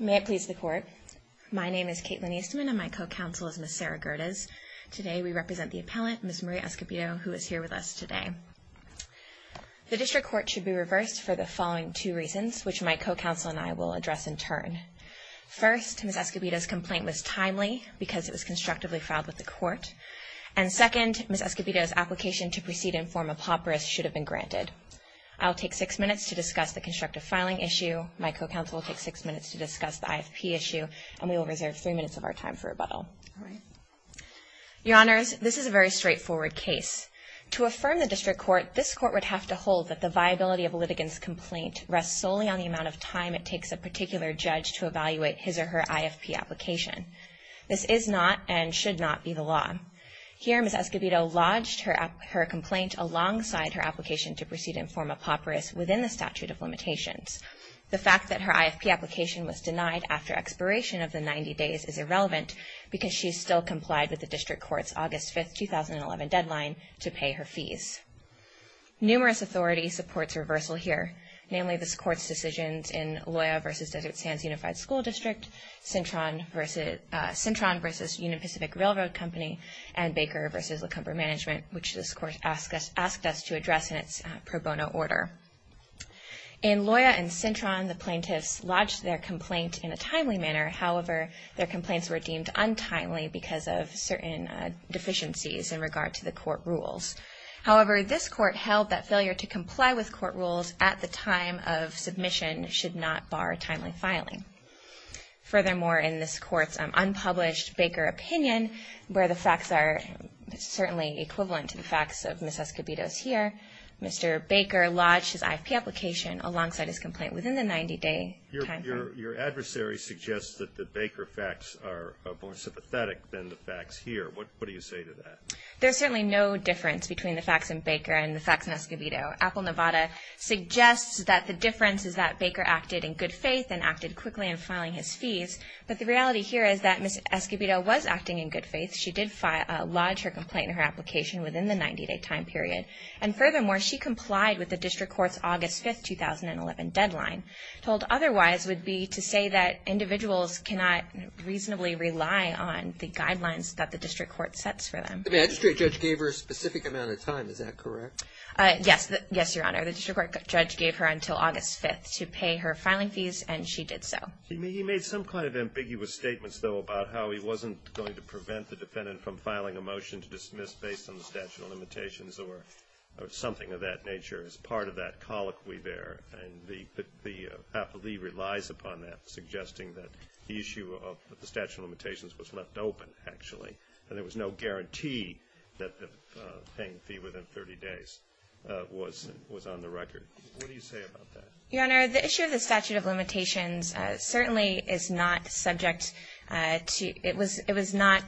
May it please the Court. My name is Caitlin Eastman and my co-counsel is Ms. Sarah Gerdes. Today we represent the appellant, Ms. Marie Escobedo, who is here with us today. The District Court should be reversed for the following two reasons, which my co-counsel and I will address in turn. First, Ms. Escobedo's complaint was timely because it was constructively filed with the Court. And second, Ms. Escobedo's application to proceed in form of hoperus should have been granted. I'll take six minutes to discuss the constructive filing issue, my co-counsel will take six minutes to discuss the IFP issue, and we will reserve three minutes of our time for rebuttal. Your Honors, this is a very straightforward case. To affirm the District Court, this Court would have to hold that the viability of a litigant's complaint rests solely on the amount of time it takes a particular judge to evaluate his or her IFP application. This is not and should not be the law. Here, Ms. Escobedo lodged her complaint alongside her application to proceed in form of hoperus within the statute of limitations. The fact that her IFP application was denied after expiration of the 90 days is irrelevant because she still complied with the District Court's August 5, 2011 deadline to pay her fees. Numerous authorities support a reversal here, namely this Court's decisions in which this Court asked us to address in its pro bono order. In Loya and Cintron, the plaintiffs lodged their complaint in a timely manner. However, their complaints were deemed untimely because of certain deficiencies in regard to the court rules. However, this Court held that failure to comply with court rules at the time of submission should not bar timely filing. Furthermore, in this Court's unpublished Baker opinion, where the facts are certainly equivalent to the facts of Ms. Escobedo's here, Mr. Baker lodged his IFP application alongside his complaint within the 90-day time frame. Your adversary suggests that the Baker facts are more sympathetic than the facts here. What do you say to that? There's certainly no difference between the facts in Baker and the facts in Escobedo. Apple Nevada suggests that the difference is that Baker acted in good faith and acted quickly in filing his fees. But the reality here is that Ms. Escobedo was acting in good faith. She did lodge her complaint in her application within the 90-day time period. And furthermore, she complied with the District Court's August 5, 2011 deadline. Told otherwise would be to say that individuals cannot reasonably rely on the guidelines that the District Court sets for them. The magistrate judge gave her a specific amount of time. Is that correct? Yes, Your Honor. The District Court judge gave her until August 5 to pay her filing fees, and she did so. He made some kind of ambiguous statements, though, about how he wasn't going to prevent the defendant from filing a motion to dismiss based on the statute of limitations or something of that nature as part of that colloquy there. And the appellee relies upon that, suggesting that the issue of the statute of limitations was left open, actually, and there was no guarantee that the paying fee within 30 days was on the record. What do you say about that? Your Honor, the issue of the statute of limitations certainly is not subject to – it was not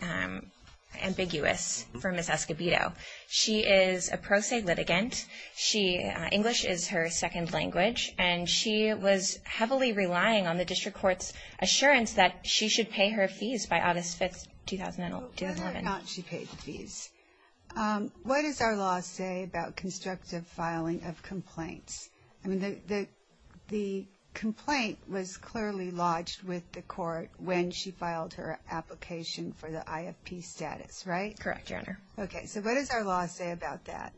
ambiguous for Ms. Escobedo. She is a pro se litigant. English is her second language. And she was heavily relying on the District Court's assurance that she should pay her fees by August 5, 2011. Whether or not she paid the fees. What does our law say about constructive filing of complaints? I mean, the complaint was clearly lodged with the court when she filed her application for the IFP status, right? Correct, Your Honor. Okay, so what does our law say about that?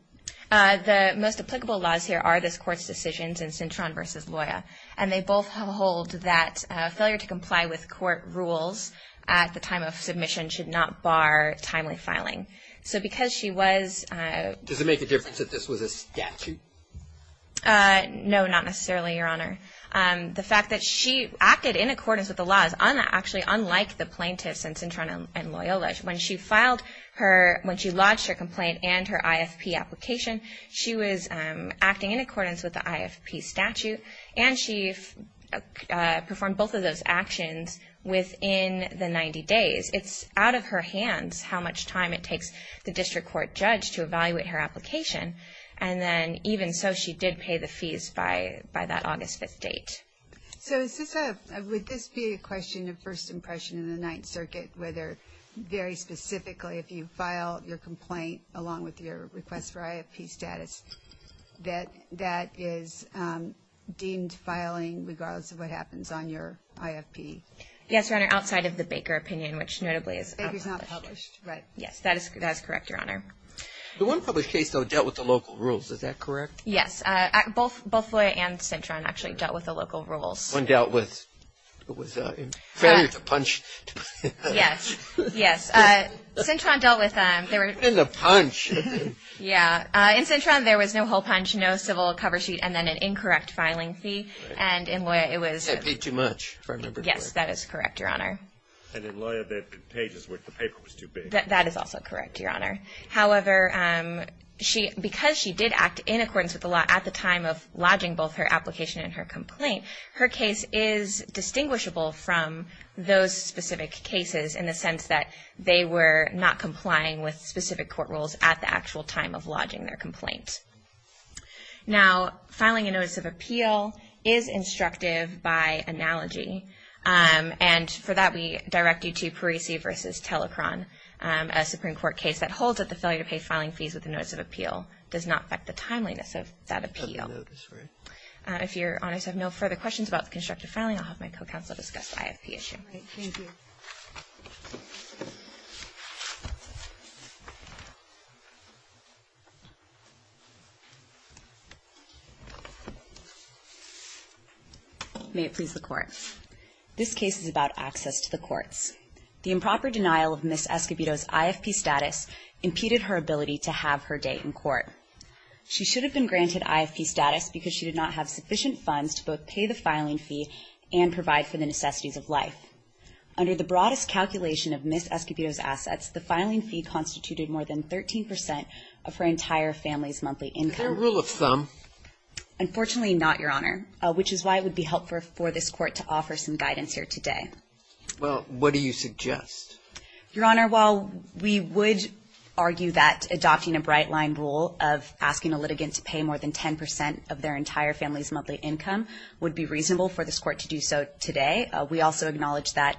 The most applicable laws here are this Court's decisions in Cintron v. Loyola. And they both hold that failure to comply with court rules at the time of submission should not bar timely filing. So because she was – Does it make a difference if this was a statute? No, not necessarily, Your Honor. The fact that she acted in accordance with the law is actually unlike the plaintiffs in Cintron and Loyola. When she filed her – when she lodged her complaint and her IFP application, she was acting in accordance with the IFP statute. And she performed both of those actions within the 90 days. It's out of her hands how much time it takes the District Court judge to evaluate her application. And then even so, she did pay the fees by that August 5 date. So is this a – would this be a question of first impression in the Ninth Circuit, whether very specifically if you file your complaint along with your request for IFP status, that that is deemed filing regardless of what happens on your IFP? Yes, Your Honor, outside of the Baker opinion, which notably is – Baker's not published, right? Yes, that is correct, Your Honor. The one published case, though, dealt with the local rules. Is that correct? Yes. Both Loyola and Cintron actually dealt with the local rules. One dealt with – it was a failure to punch. Yes, yes. Cintron dealt with – And the punch. Yeah. In Cintron, there was no whole punch, no civil cover sheet, and then an incorrect filing fee. And in Loyola, it was – They paid too much, if I remember correctly. Yes, that is correct, Your Honor. And in Loyola, they had pages where the paper was too big. That is also correct, Your Honor. However, because she did act in accordance with the law at the time of lodging both her application and her complaint, her case is distinguishable from those specific cases in the sense that they were not complying with specific court rules at the actual time of lodging their complaint. Now, filing a notice of appeal is instructive by analogy. And for that, we direct you to Parisi v. Telecron, a Supreme Court case that holds that the failure to pay filing fees with a notice of appeal does not affect the timeliness of that appeal. If Your Honor has no further questions about the constructive filing, I'll have my co-counsel discuss the IFP issue. All right. Thank you. May it please the Court. This case is about access to the courts. The improper denial of Ms. Escobedo's IFP status impeded her ability to have her day in court. She should have been granted IFP status because she did not have sufficient funds to both pay the filing fee and provide for the necessities of life. Under the broadest calculation of Ms. Escobedo's assets, the filing fee constituted more than 13 percent of her entire family's monthly income. Is there a rule of thumb? Unfortunately not, Your Honor, which is why it would be helpful for this Court to offer some guidance here today. Well, what do you suggest? Your Honor, while we would argue that adopting a bright-line rule of asking a litigant to pay more than 10 percent of their entire family's monthly income would be reasonable for this Court to do so today, we also acknowledge that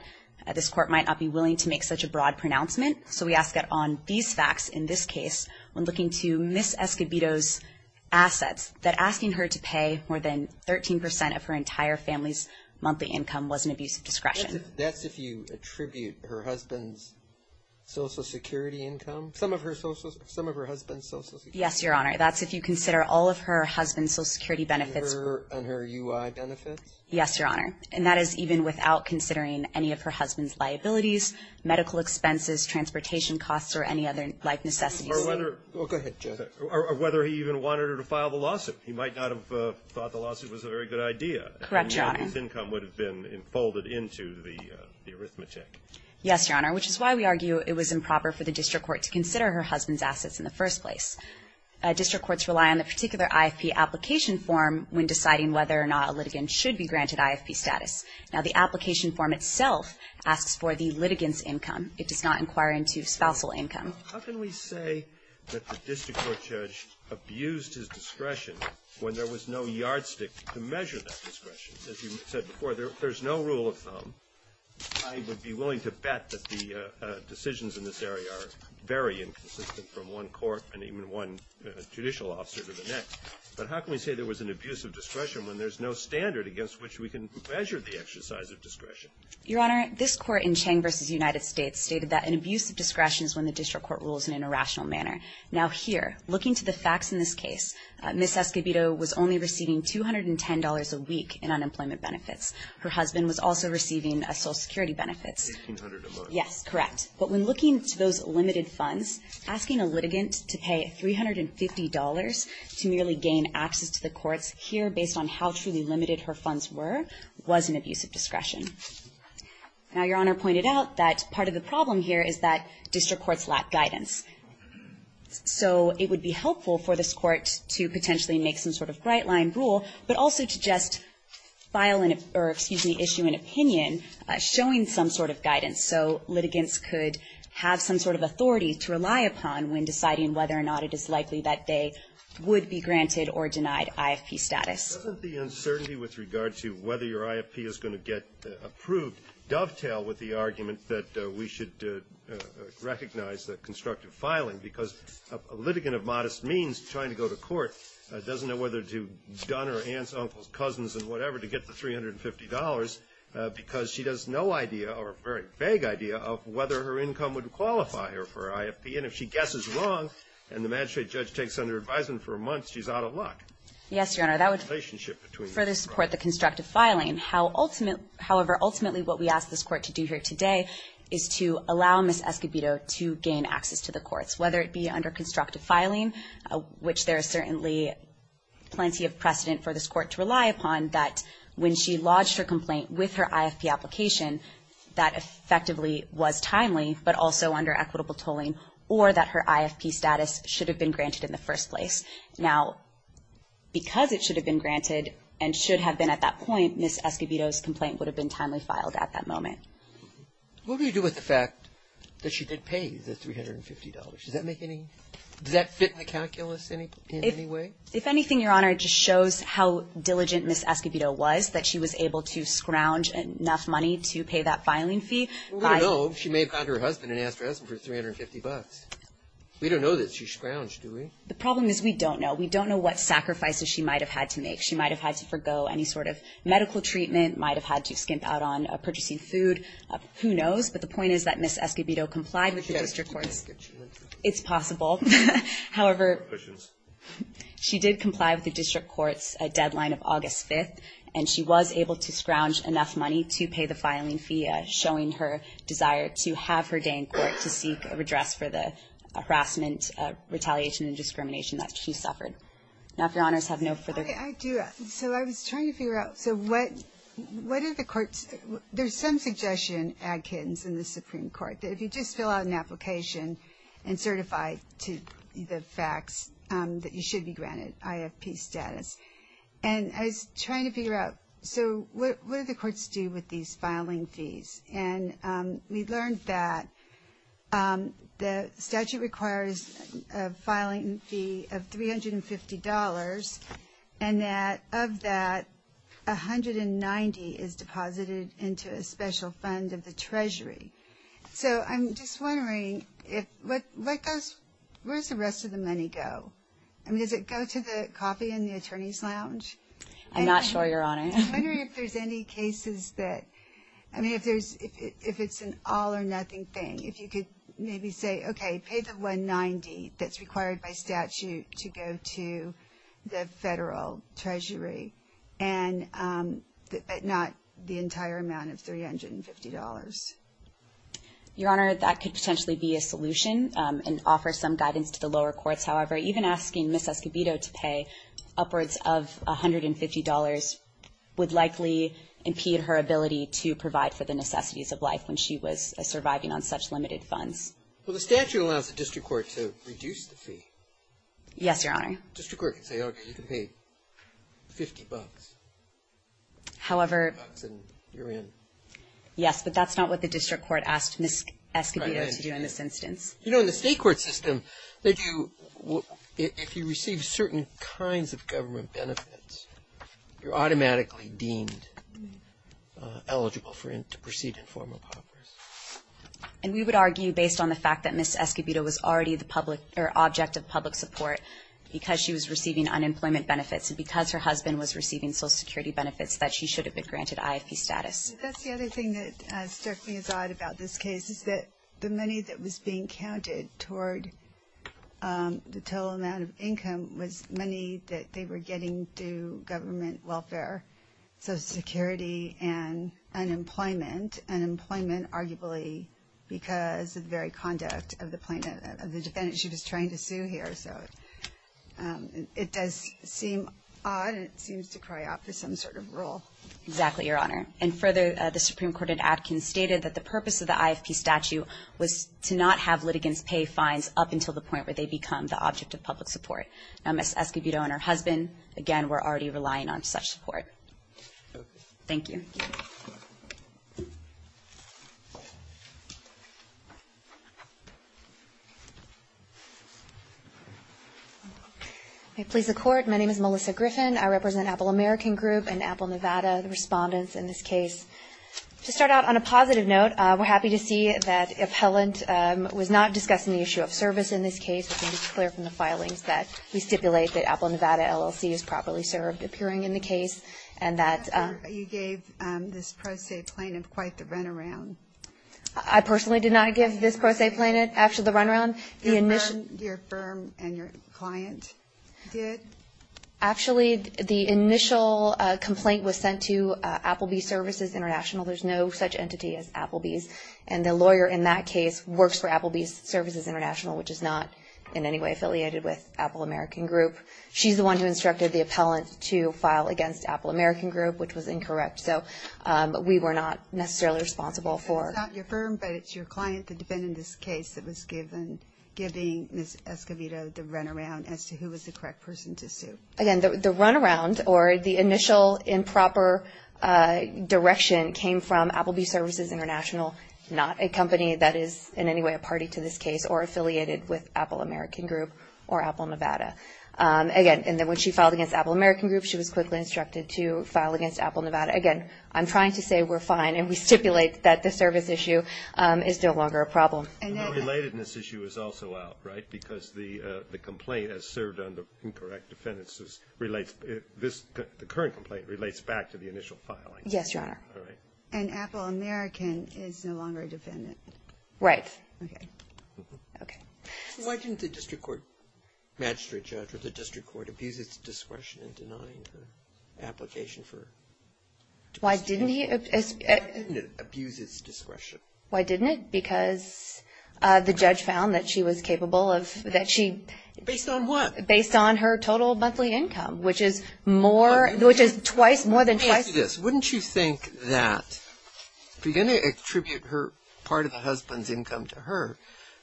this Court might not be willing to make such a broad pronouncement. So we ask that on these facts in this case, when looking to Ms. Escobedo's assets, that asking her to pay more than 13 percent of her entire family's monthly income was an abuse of discretion. That's if you attribute her husband's Social Security income? Some of her husband's Social Security? Yes, Your Honor. That's if you consider all of her husband's Social Security benefits. And her UI benefits? Yes, Your Honor. And that is even without considering any of her husband's liabilities, medical expenses, transportation costs, or any other life necessities. Or whether he even wanted her to file the lawsuit. He might not have thought the lawsuit was a very good idea. Correct, Your Honor. His income would have been folded into the arithmetic. Yes, Your Honor, which is why we argue it was improper for the district court to consider her husband's assets in the first place. District courts rely on the particular IFP application form when deciding whether or not a litigant should be granted IFP status. Now, the application form itself asks for the litigant's income. It does not inquire into spousal income. How can we say that the district court judge abused his discretion when there was no yardstick to measure that discretion? As you said before, there's no rule of thumb. I would be willing to bet that the decisions in this area are very inconsistent from one court and even one judicial officer to the next. But how can we say there was an abuse of discretion when there's no standard against which we can measure the exercise of discretion? Your Honor, this court in Chang v. United States stated that an abuse of discretion is when the district court rules in an irrational manner. Now, here, looking to the facts in this case, Ms. Escobedo was only receiving $210 a week in unemployment benefits. Her husband was also receiving Social Security benefits. $1,800. Yes, correct. But when looking to those limited funds, asking a litigant to pay $350 to merely gain access to the courts here based on how truly limited her funds were was an abuse of discretion. Now, Your Honor pointed out that part of the problem here is that district courts lack guidance. So it would be helpful for this court to potentially make some sort of bright-line rule, but also to just file an or, excuse me, issue an opinion showing some sort of guidance so litigants could have some sort of authority to rely upon when deciding whether or not it is likely that they would be granted or denied IFP status. Doesn't the uncertainty with regard to whether your IFP is going to get approved dovetail with the argument that we should recognize the constructive filing? Because a litigant of modest means trying to go to court doesn't know whether to donor aunts, uncles, cousins, and whatever to get the $350 because she has no idea or a very vague idea of whether her income would qualify her for IFP. And if she guesses wrong and the magistrate judge takes under advisement for months, she's out of luck. Yes, Your Honor. That would further support the constructive filing. However, ultimately what we ask this Court to do here today is to allow Ms. Escobedo to gain access to the courts, whether it be under constructive filing, which there is certainly plenty of precedent for this Court to rely upon, that when she lodged her complaint with her IFP application, that effectively was timely, but also under equitable tolling, or that her IFP status should have been granted in the first place. Now, because it should have been granted and should have been at that point, Ms. Escobedo's complaint would have been timely filed at that moment. What do you do with the fact that she did pay the $350? Does that make any – does that fit in the calculus in any way? If anything, Your Honor, it just shows how diligent Ms. Escobedo was, that she was able to scrounge enough money to pay that filing fee. We don't know. She may have gone to her husband and asked her husband for $350. We don't know that she scrounged, do we? The problem is we don't know. We don't know what sacrifices she might have had to make. She might have had to forgo any sort of medical treatment, might have had to skimp out on purchasing food. Who knows? But the point is that Ms. Escobedo complied with the district courts. It's possible. However, she did comply with the district courts deadline of August 5th, and she was able to scrounge enough money to pay the filing fee, showing her desire to have her address for the harassment, retaliation, and discrimination that she suffered. Now, if Your Honors have no further – I do. So I was trying to figure out – so what are the courts – there's some suggestion, Adkins, in the Supreme Court, that if you just fill out an application and certify to the facts, that you should be granted IFP status. And I was trying to figure out, so what do the courts do with these filing fees? And we learned that the statute requires a filing fee of $350, and that of that, $190 is deposited into a special fund of the Treasury. So I'm just wondering, where does the rest of the money go? I mean, does it go to the coffee in the Attorney's Lounge? I'm not sure, Your Honor. I'm wondering if there's any cases that – I mean, if there's – if it's an all-or-nothing thing, if you could maybe say, okay, pay the $190 that's required by statute to go to the Federal Treasury, but not the entire amount of $350. Your Honor, that could potentially be a solution and offer some guidance to the lower courts. However, even asking Ms. Escobedo to pay upwards of $150 would likely impede her ability to provide for the necessities of life when she was surviving on such limited funds. Well, the statute allows the district court to reduce the fee. Yes, Your Honor. The district court could say, okay, you can pay $50. However – $50, and you're in. Yes, but that's not what the district court asked Ms. Escobedo to do in this instance. You know, in the state court system, they do – if you receive certain kinds of government benefits, you're automatically deemed eligible for – to proceed in formal powers. And we would argue, based on the fact that Ms. Escobedo was already the public – or object of public support because she was receiving unemployment benefits and because her husband was receiving Social Security benefits, that she should have been granted IFP status. That's the other thing that struck me as odd about this case, is that the money that was being counted toward the total amount of income was money that they were getting through government welfare, Social Security, and unemployment – unemployment, arguably, because of the very conduct of the plaintiff – of the defendant she was trying to sue here. So it does seem odd, and it seems to cry out for some sort of rule. Exactly, Your Honor. And further, the Supreme Court in Atkins stated that the purpose of the IFP statute was to not have litigants pay fines up until the point where they become the object of public support. Now, Ms. Escobedo and her husband, again, were already relying on such support. Okay. Thank you. May it please the Court, my name is Melissa Griffin. I represent Apple American Group and Apple Nevada, the respondents in this case. To start out on a positive note, we're happy to see that the appellant was not discussing the issue of service in this case. It's clear from the filings that we stipulate that Apple Nevada LLC is properly served, appearing in the case, and that – You gave this pro se plaintiff quite the runaround. I personally did not give this pro se plaintiff quite the runaround. Your firm and your client did? Actually, the initial complaint was sent to Applebee's Services International. There's no such entity as Applebee's, and the lawyer in that case works for Applebee's Services International, which is not in any way affiliated with Apple American Group. She's the one who instructed the appellant to file against Apple American Group, which was incorrect. So we were not necessarily responsible for – It's not your firm, but it's your client that defended this case that was given, giving Ms. Escovedo the runaround as to who was the correct person to sue. Again, the runaround, or the initial improper direction, came from Applebee's Services International, not a company that is in any way a party to this case or affiliated with Apple American Group or Apple Nevada. Again, when she filed against Apple American Group, she was quickly instructed to file against Apple Nevada. Again, I'm trying to say we're fine, and we stipulate that the service issue is no longer a problem. And the relatedness issue is also out, right, because the complaint has served on the incorrect defendants' – the current complaint relates back to the initial filing. Yes, Your Honor. All right. And Apple American is no longer a defendant. Right. Okay. Okay. Why didn't the district court magistrate judge or the district court abuse its discretion in denying the application for – Why didn't he – Why didn't it abuse its discretion? Why didn't it? Because the judge found that she was capable of – that she – Based on what? Based on her total monthly income, which is more – Which is twice – more than twice – Let me ask you this. Wouldn't you think that if you're going to attribute her – part of the husband's income to her,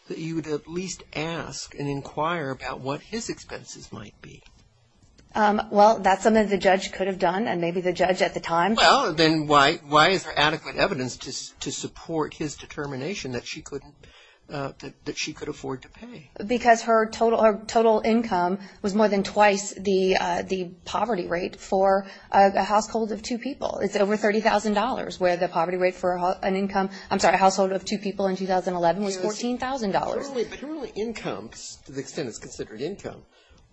that you would at least ask and inquire about what his expenses might be? Well, that's something the judge could have done, and maybe the judge at the time – Well, then why is there adequate evidence to support his determination that she couldn't – that she could afford to pay? Because her total income was more than twice the poverty rate for a household of two people. It's over $30,000, where the poverty rate for an income – I'm sorry, a household of two people in 2011 was $14,000. But her only income, to the extent it's considered income,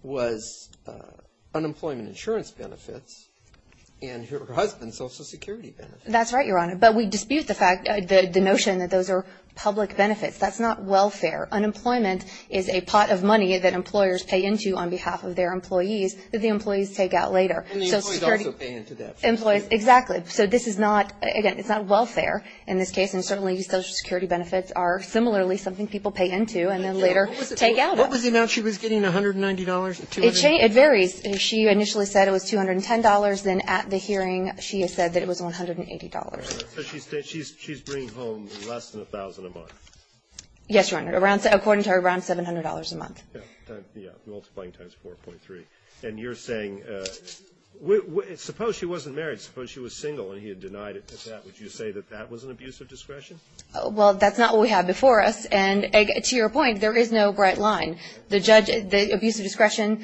was unemployment insurance benefits and her husband's Social Security benefits. That's right, Your Honor. But we dispute the fact – the notion that those are public benefits. That's not welfare. Unemployment is a pot of money that employers pay into on behalf of their employees that the employees take out later. And the employees also pay into that. Employees – exactly. So this is not – again, it's not welfare in this case, and certainly Social Security benefits are similarly something people pay into and then later take out of. What was the amount she was getting, $190? It varies. She initially said it was $210. Then at the hearing, she said that it was $180. So she's bringing home less than $1,000 a month? Yes, Your Honor, according to her, around $700 a month. Yeah, multiplying times 4.3. And you're saying – suppose she wasn't married. Suppose she was single and he had denied it. Would you say that that was an abuse of discretion? Well, that's not what we have before us. And to your point, there is no bright line. The judge – the abuse of discretion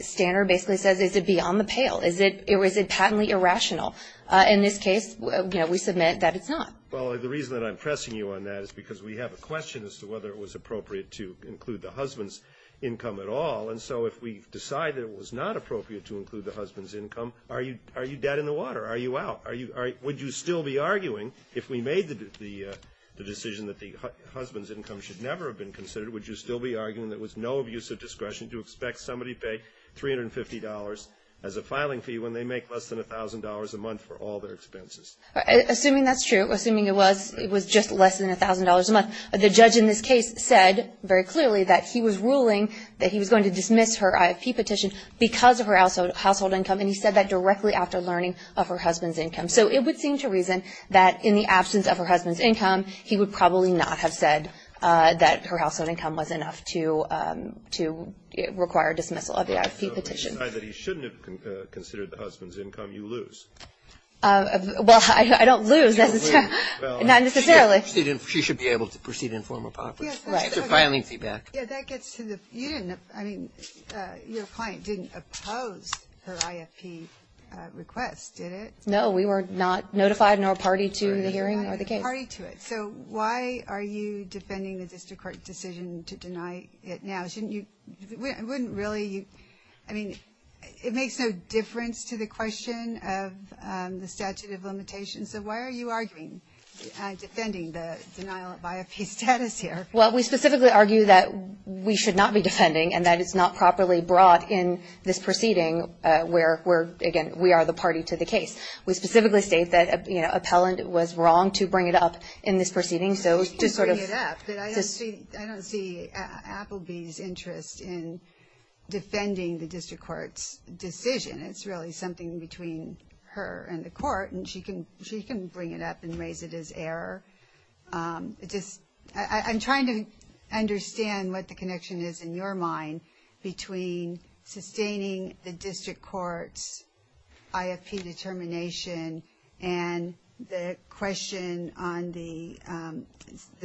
standard basically says is it beyond the pale? Is it patently irrational? In this case, you know, we submit that it's not. Well, the reason that I'm pressing you on that is because we have a question as to whether it was appropriate to include the husband's income at all. And so if we decide that it was not appropriate to include the husband's income, are you dead in the water? Are you out? Would you still be arguing, if we made the decision that the husband's income should never have been considered, would you still be arguing that it was no abuse of discretion to expect somebody to pay $350 as a filing fee when they make less than $1,000 a month for all their expenses? Assuming that's true, assuming it was just less than $1,000 a month, the judge in this case said very clearly that he was ruling that he was going to dismiss her IFP petition because of her household income. And he said that directly after learning of her husband's income. So it would seem to reason that in the absence of her husband's income, he would probably not have said that her household income was enough to require dismissal of the IFP petition. So if you decide that he shouldn't have considered the husband's income, you lose? Well, I don't lose necessarily. Not necessarily. She should be able to proceed and inform her property. Right. Filing fee back. Yeah, that gets to the, you didn't, I mean, your client didn't oppose her IFP request, did it? No, we were not notified nor party to the hearing or the case. So why are you defending the district court decision to deny it now? Shouldn't you, wouldn't really, I mean, it makes no difference to the question of the statute of limitations, so why are you arguing, defending the denial of IFP status here? Well, we specifically argue that we should not be defending and that it's not properly brought in this proceeding where, again, we are the party to the case. We specifically state that, you know, appellant was wrong to bring it up in this proceeding, so to sort of. She can bring it up, but I don't see Appleby's interest in defending the district court's decision. It's really something between her and the court, and she can bring it up and raise it as error. I'm trying to understand what the connection is in your mind between sustaining the district court's IFP determination and the question on the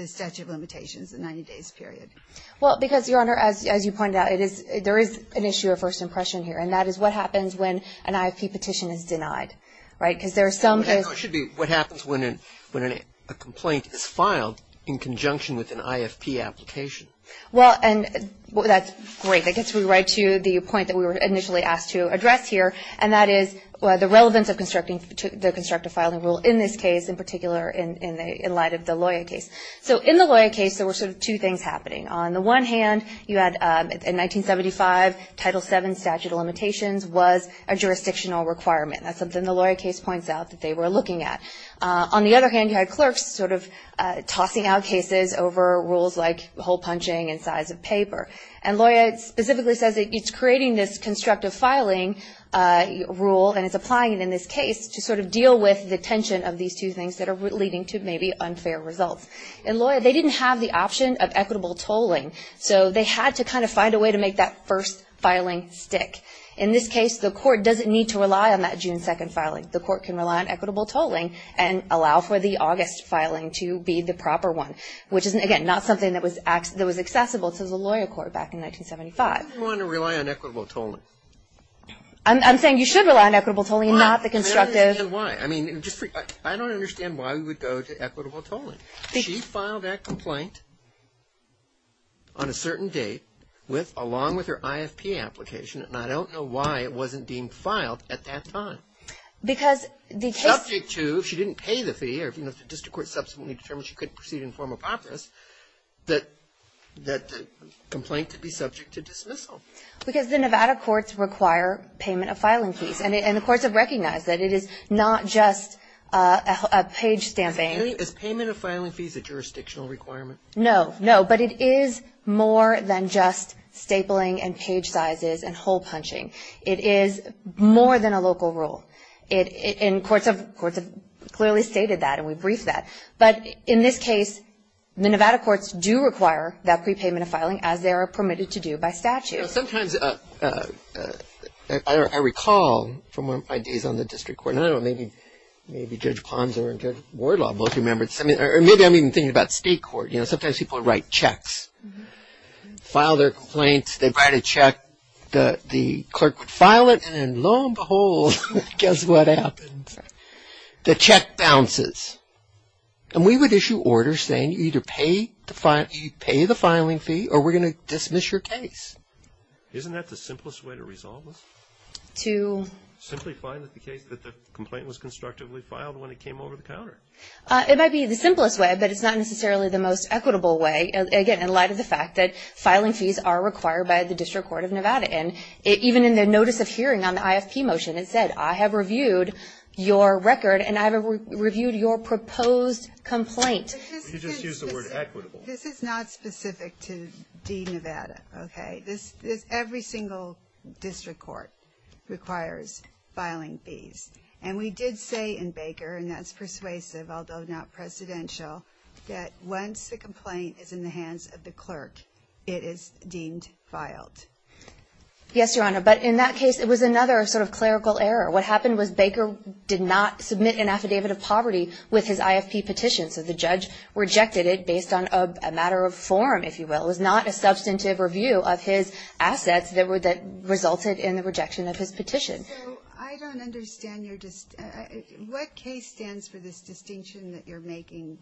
statute of limitations, the 90 days period. Well, because, Your Honor, as you pointed out, there is an issue of first impression here, and that is what happens when an IFP petition is denied, right? I know it should be what happens when a complaint is filed in conjunction with an IFP application. Well, and that's great. I guess we're right to the point that we were initially asked to address here, and that is the relevance of the constructive filing rule in this case, in particular in light of the Loya case. So in the Loya case, there were sort of two things happening. On the one hand, you had in 1975, Title VII statute of limitations was a jurisdictional requirement. That's something the Loya case points out that they were looking at. On the other hand, you had clerks sort of tossing out cases over rules like hole punching and size of paper. And Loya specifically says it's creating this constructive filing rule and is applying it in this case to sort of deal with the tension of these two things that are leading to maybe unfair results. In Loya, they didn't have the option of equitable tolling, so they had to kind of find a way to make that first filing stick. In this case, the court doesn't need to rely on that June 2nd filing. The court can rely on equitable tolling and allow for the August filing to be the proper one, which is, again, not something that was accessible to the Loya court back in 1975. Why would you want to rely on equitable tolling? I'm saying you should rely on equitable tolling, not the constructive. I don't understand why. I mean, I don't understand why we would go to equitable tolling. She filed that complaint on a certain date, along with her IFP application, and I don't know why it wasn't deemed filed at that time. Subject to, if she didn't pay the fee or if the district court subsequently determined she couldn't proceed in formal practice, that the complaint could be subject to dismissal. Because the Nevada courts require payment of filing fees, and the courts have recognized that it is not just a page stamping. Is payment of filing fees a jurisdictional requirement? No, no. But it is more than just stapling and page sizes and hole punching. It is more than a local rule. And courts have clearly stated that, and we briefed that. But in this case, the Nevada courts do require that prepayment of filing, as they are permitted to do by statute. Sometimes I recall from my days on the district court, and I don't know, maybe Judge Ponzo and Judge Wardlaw both remember this. Or maybe I'm even thinking about state court. You know, sometimes people write checks, file their complaints, they write a check, the clerk would file it, and then lo and behold, guess what happens? The check bounces. And we would issue orders saying you either pay the filing fee or we're going to dismiss your case. Isn't that the simplest way to resolve this? Simply find that the complaint was constructively filed when it came over the counter. It might be the simplest way, but it's not necessarily the most equitable way, again, in light of the fact that filing fees are required by the district court of Nevada. And even in the notice of hearing on the IFP motion, it said, I have reviewed your record and I have reviewed your proposed complaint. You just used the word equitable. This is not specific to D-Nevada, okay? Every single district court requires filing fees. And we did say in Baker, and that's persuasive, although not precedential, that once the complaint is in the hands of the clerk, it is deemed filed. Yes, Your Honor, but in that case, it was another sort of clerical error. What happened was Baker did not submit an affidavit of poverty with his IFP petition, so the judge rejected it based on a matter of form, if you will. It was not a substantive review of his assets that resulted in the rejection of his petition. So I don't understand your distinction. What case stands for this distinction that you're making,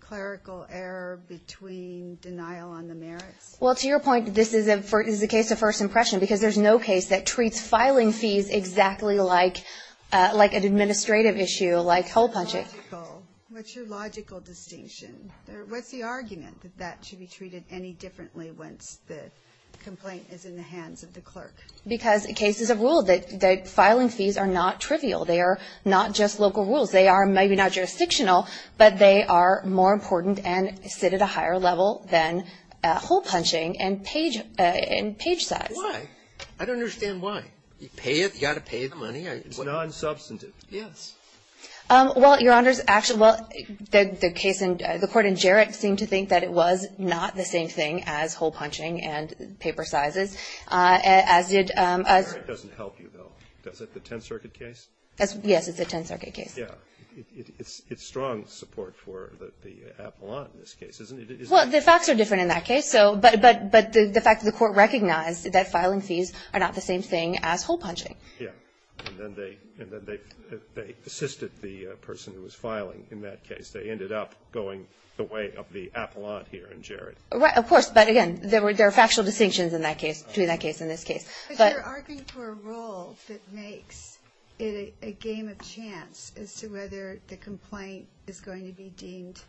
clerical error between denial on the merits? Well, to your point, this is a case of first impression because there's no case that treats filing fees exactly like an administrative issue, like hole-punching. What's your logical distinction? What's the argument that that should be treated any differently once the complaint is in the hands of the clerk? Because the case is a rule. The filing fees are not trivial. They are not just local rules. They are maybe not jurisdictional, but they are more important and sit at a higher level than hole-punching and page size. Why? I don't understand why. You pay it? You've got to pay the money? It's non-substantive. Yes. Well, Your Honor, the court in Jarek seemed to think that it was not the same thing as hole-punching and paper sizes. Jarek doesn't help you, though, does it, the Tenth Circuit case? Yes, it's the Tenth Circuit case. Yes. It's strong support for the appellant in this case, isn't it? Well, the facts are different in that case, but the fact that the court recognized that filing fees are not the same thing as hole-punching. Yes. And then they assisted the person who was filing in that case. They ended up going the way of the appellant here in Jarek. Of course. But, again, there are factual distinctions between that case and this case. But you're arguing for a rule that makes it a game of chance as to whether the complaint is going to be deemed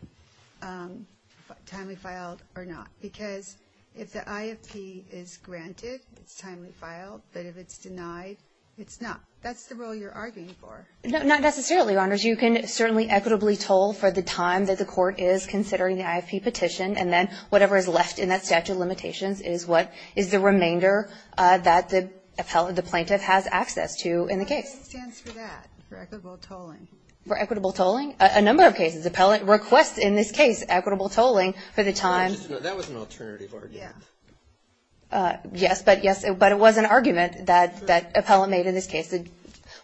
timely filed or not. Because if the IFP is granted, it's timely filed. But if it's denied, it's not. That's the rule you're arguing for. Not necessarily, Your Honors. You can certainly equitably toll for the time that the court is considering the whatever is left in that statute of limitations is what is the remainder that the plaintiff has access to in the case. What stands for that, for equitable tolling? For equitable tolling? A number of cases. Appellant requests in this case equitable tolling for the time. That was an alternative argument. Yes. But it was an argument that appellant made in this case.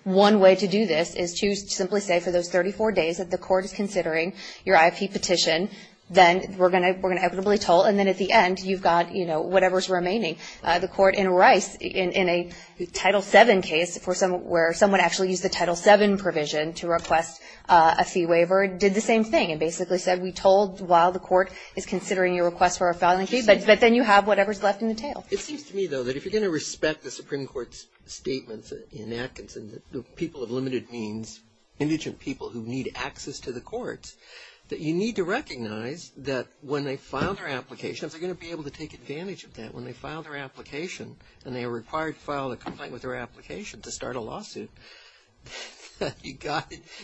One way to do this is to simply say for those 34 days that the court is considering your IP petition, then we're going to equitably toll. And then at the end, you've got, you know, whatever is remaining. The court in Rice, in a Title VII case where someone actually used the Title VII provision to request a fee waiver, did the same thing and basically said we tolled while the court is considering your request for a filing fee. But then you have whatever is left in the tail. It seems to me, though, that if you're going to respect the Supreme Court's statements in Atkinson that people of limited means, indigent people who need access to the courts, that you need to recognize that when they file their applications, they're going to be able to take advantage of that. When they file their application and they are required to file a complaint with their application to start a lawsuit, that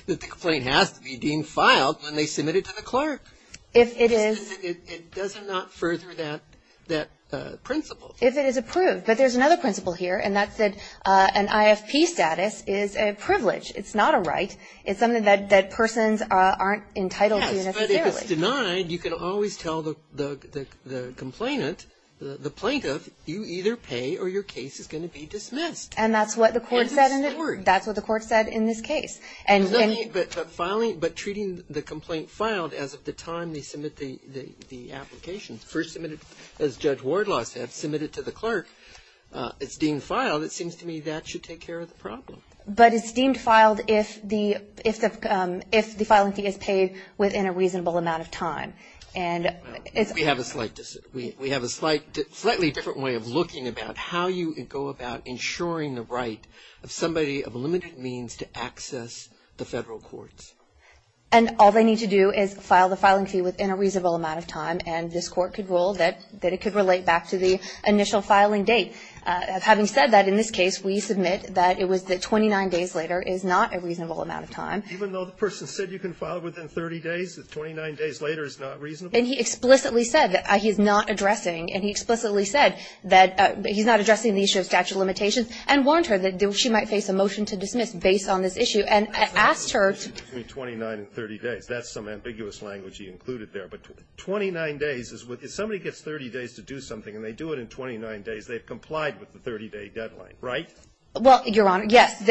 the complaint has to be deemed filed when they submit it to the clerk. If it is. It does not further that principle. If it is approved. But there's another principle here, and that's that an IFP status is a privilege. It's not a right. It's something that persons aren't entitled to necessarily. Yes, but if it's denied, you can always tell the complainant, the plaintiff, you either pay or your case is going to be dismissed. And that's what the court said in this case. But treating the complaint filed as of the time they submit the application, first submitted as Judge Wardlaw said, submitted to the clerk, it's deemed filed if the filing fee is paid within a reasonable amount of time. And it's. We have a slightly different way of looking about how you go about ensuring the right of somebody of limited means to access the Federal courts. And all they need to do is file the filing fee within a reasonable amount of time, and this court could rule that it could relate back to the initial filing date. And having said that, in this case, we submit that it was the 29 days later is not a reasonable amount of time. Even though the person said you can file within 30 days, 29 days later is not reasonable? And he explicitly said that he's not addressing. And he explicitly said that he's not addressing the issue of statute of limitations and warned her that she might face a motion to dismiss based on this issue and asked her. That's not a motion between 29 and 30 days. That's some ambiguous language you included there. But 29 days, if somebody gets 30 days to do something and they do it in 29 days, they've complied with the 30-day deadline, right? Well, Your Honor, yes.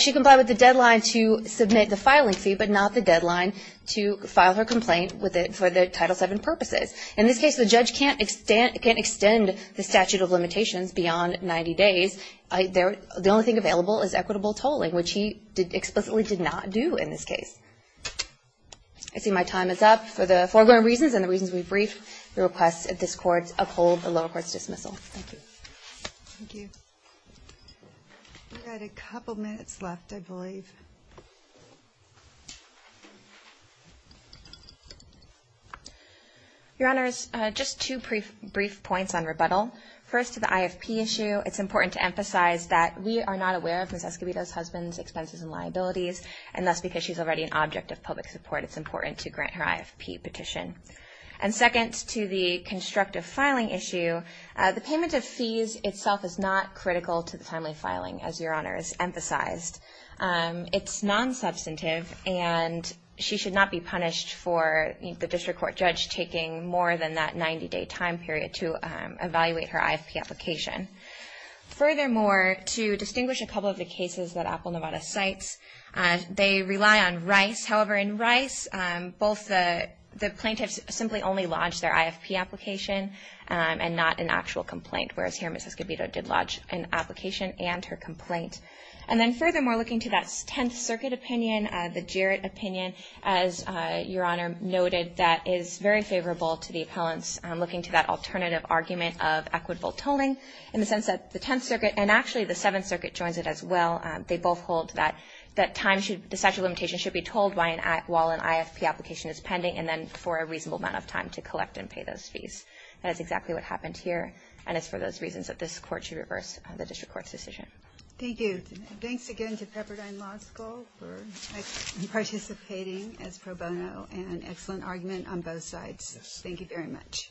She complied with the deadline to submit the filing fee, but not the deadline to file her complaint for the Title VII purposes. In this case, the judge can't extend the statute of limitations beyond 90 days. The only thing available is equitable tolling, which he explicitly did not do in this case. I see my time is up. For the foregoing reasons and the reasons we briefed, we request that this Court uphold the lower court's dismissal. Thank you. Thank you. We've got a couple minutes left, I believe. Your Honors, just two brief points on rebuttal. First, to the IFP issue, it's important to emphasize that we are not aware of Ms. Escobedo's husband's expenses and liabilities, and thus, because she's already an object of public support, it's important to grant her IFP petition. And second, to the constructive filing issue, the payment of fees itself is not critical to the timely filing, as Your Honor has emphasized. It's non-substantive, and she should not be punished for the district court judge taking more than that 90-day time period to evaluate her IFP application. Furthermore, to distinguish a couple of the cases that Apple Nevada cites, they rely on rice. However, in rice, both the plaintiffs simply only lodged their IFP application and not an actual complaint, whereas here, Ms. Escobedo did lodge an application and her complaint. And then furthermore, looking to that Tenth Circuit opinion, the Jarrett opinion, as Your Honor noted, that is very favorable to the appellants, looking to that alternative argument of equitable tolling in the sense that the Tenth Circuit and actually the Seventh Circuit joins it as well. They both hold that the statute of limitations should be told while an IFP application is pending and then for a reasonable amount of time to collect and pay those fees. That is exactly what happened here, and it's for those reasons that this Court should reverse the district court's decision. Thank you. Thanks again to Pepperdine Law School for participating as pro bono, and an excellent argument on both sides. Thank you very much.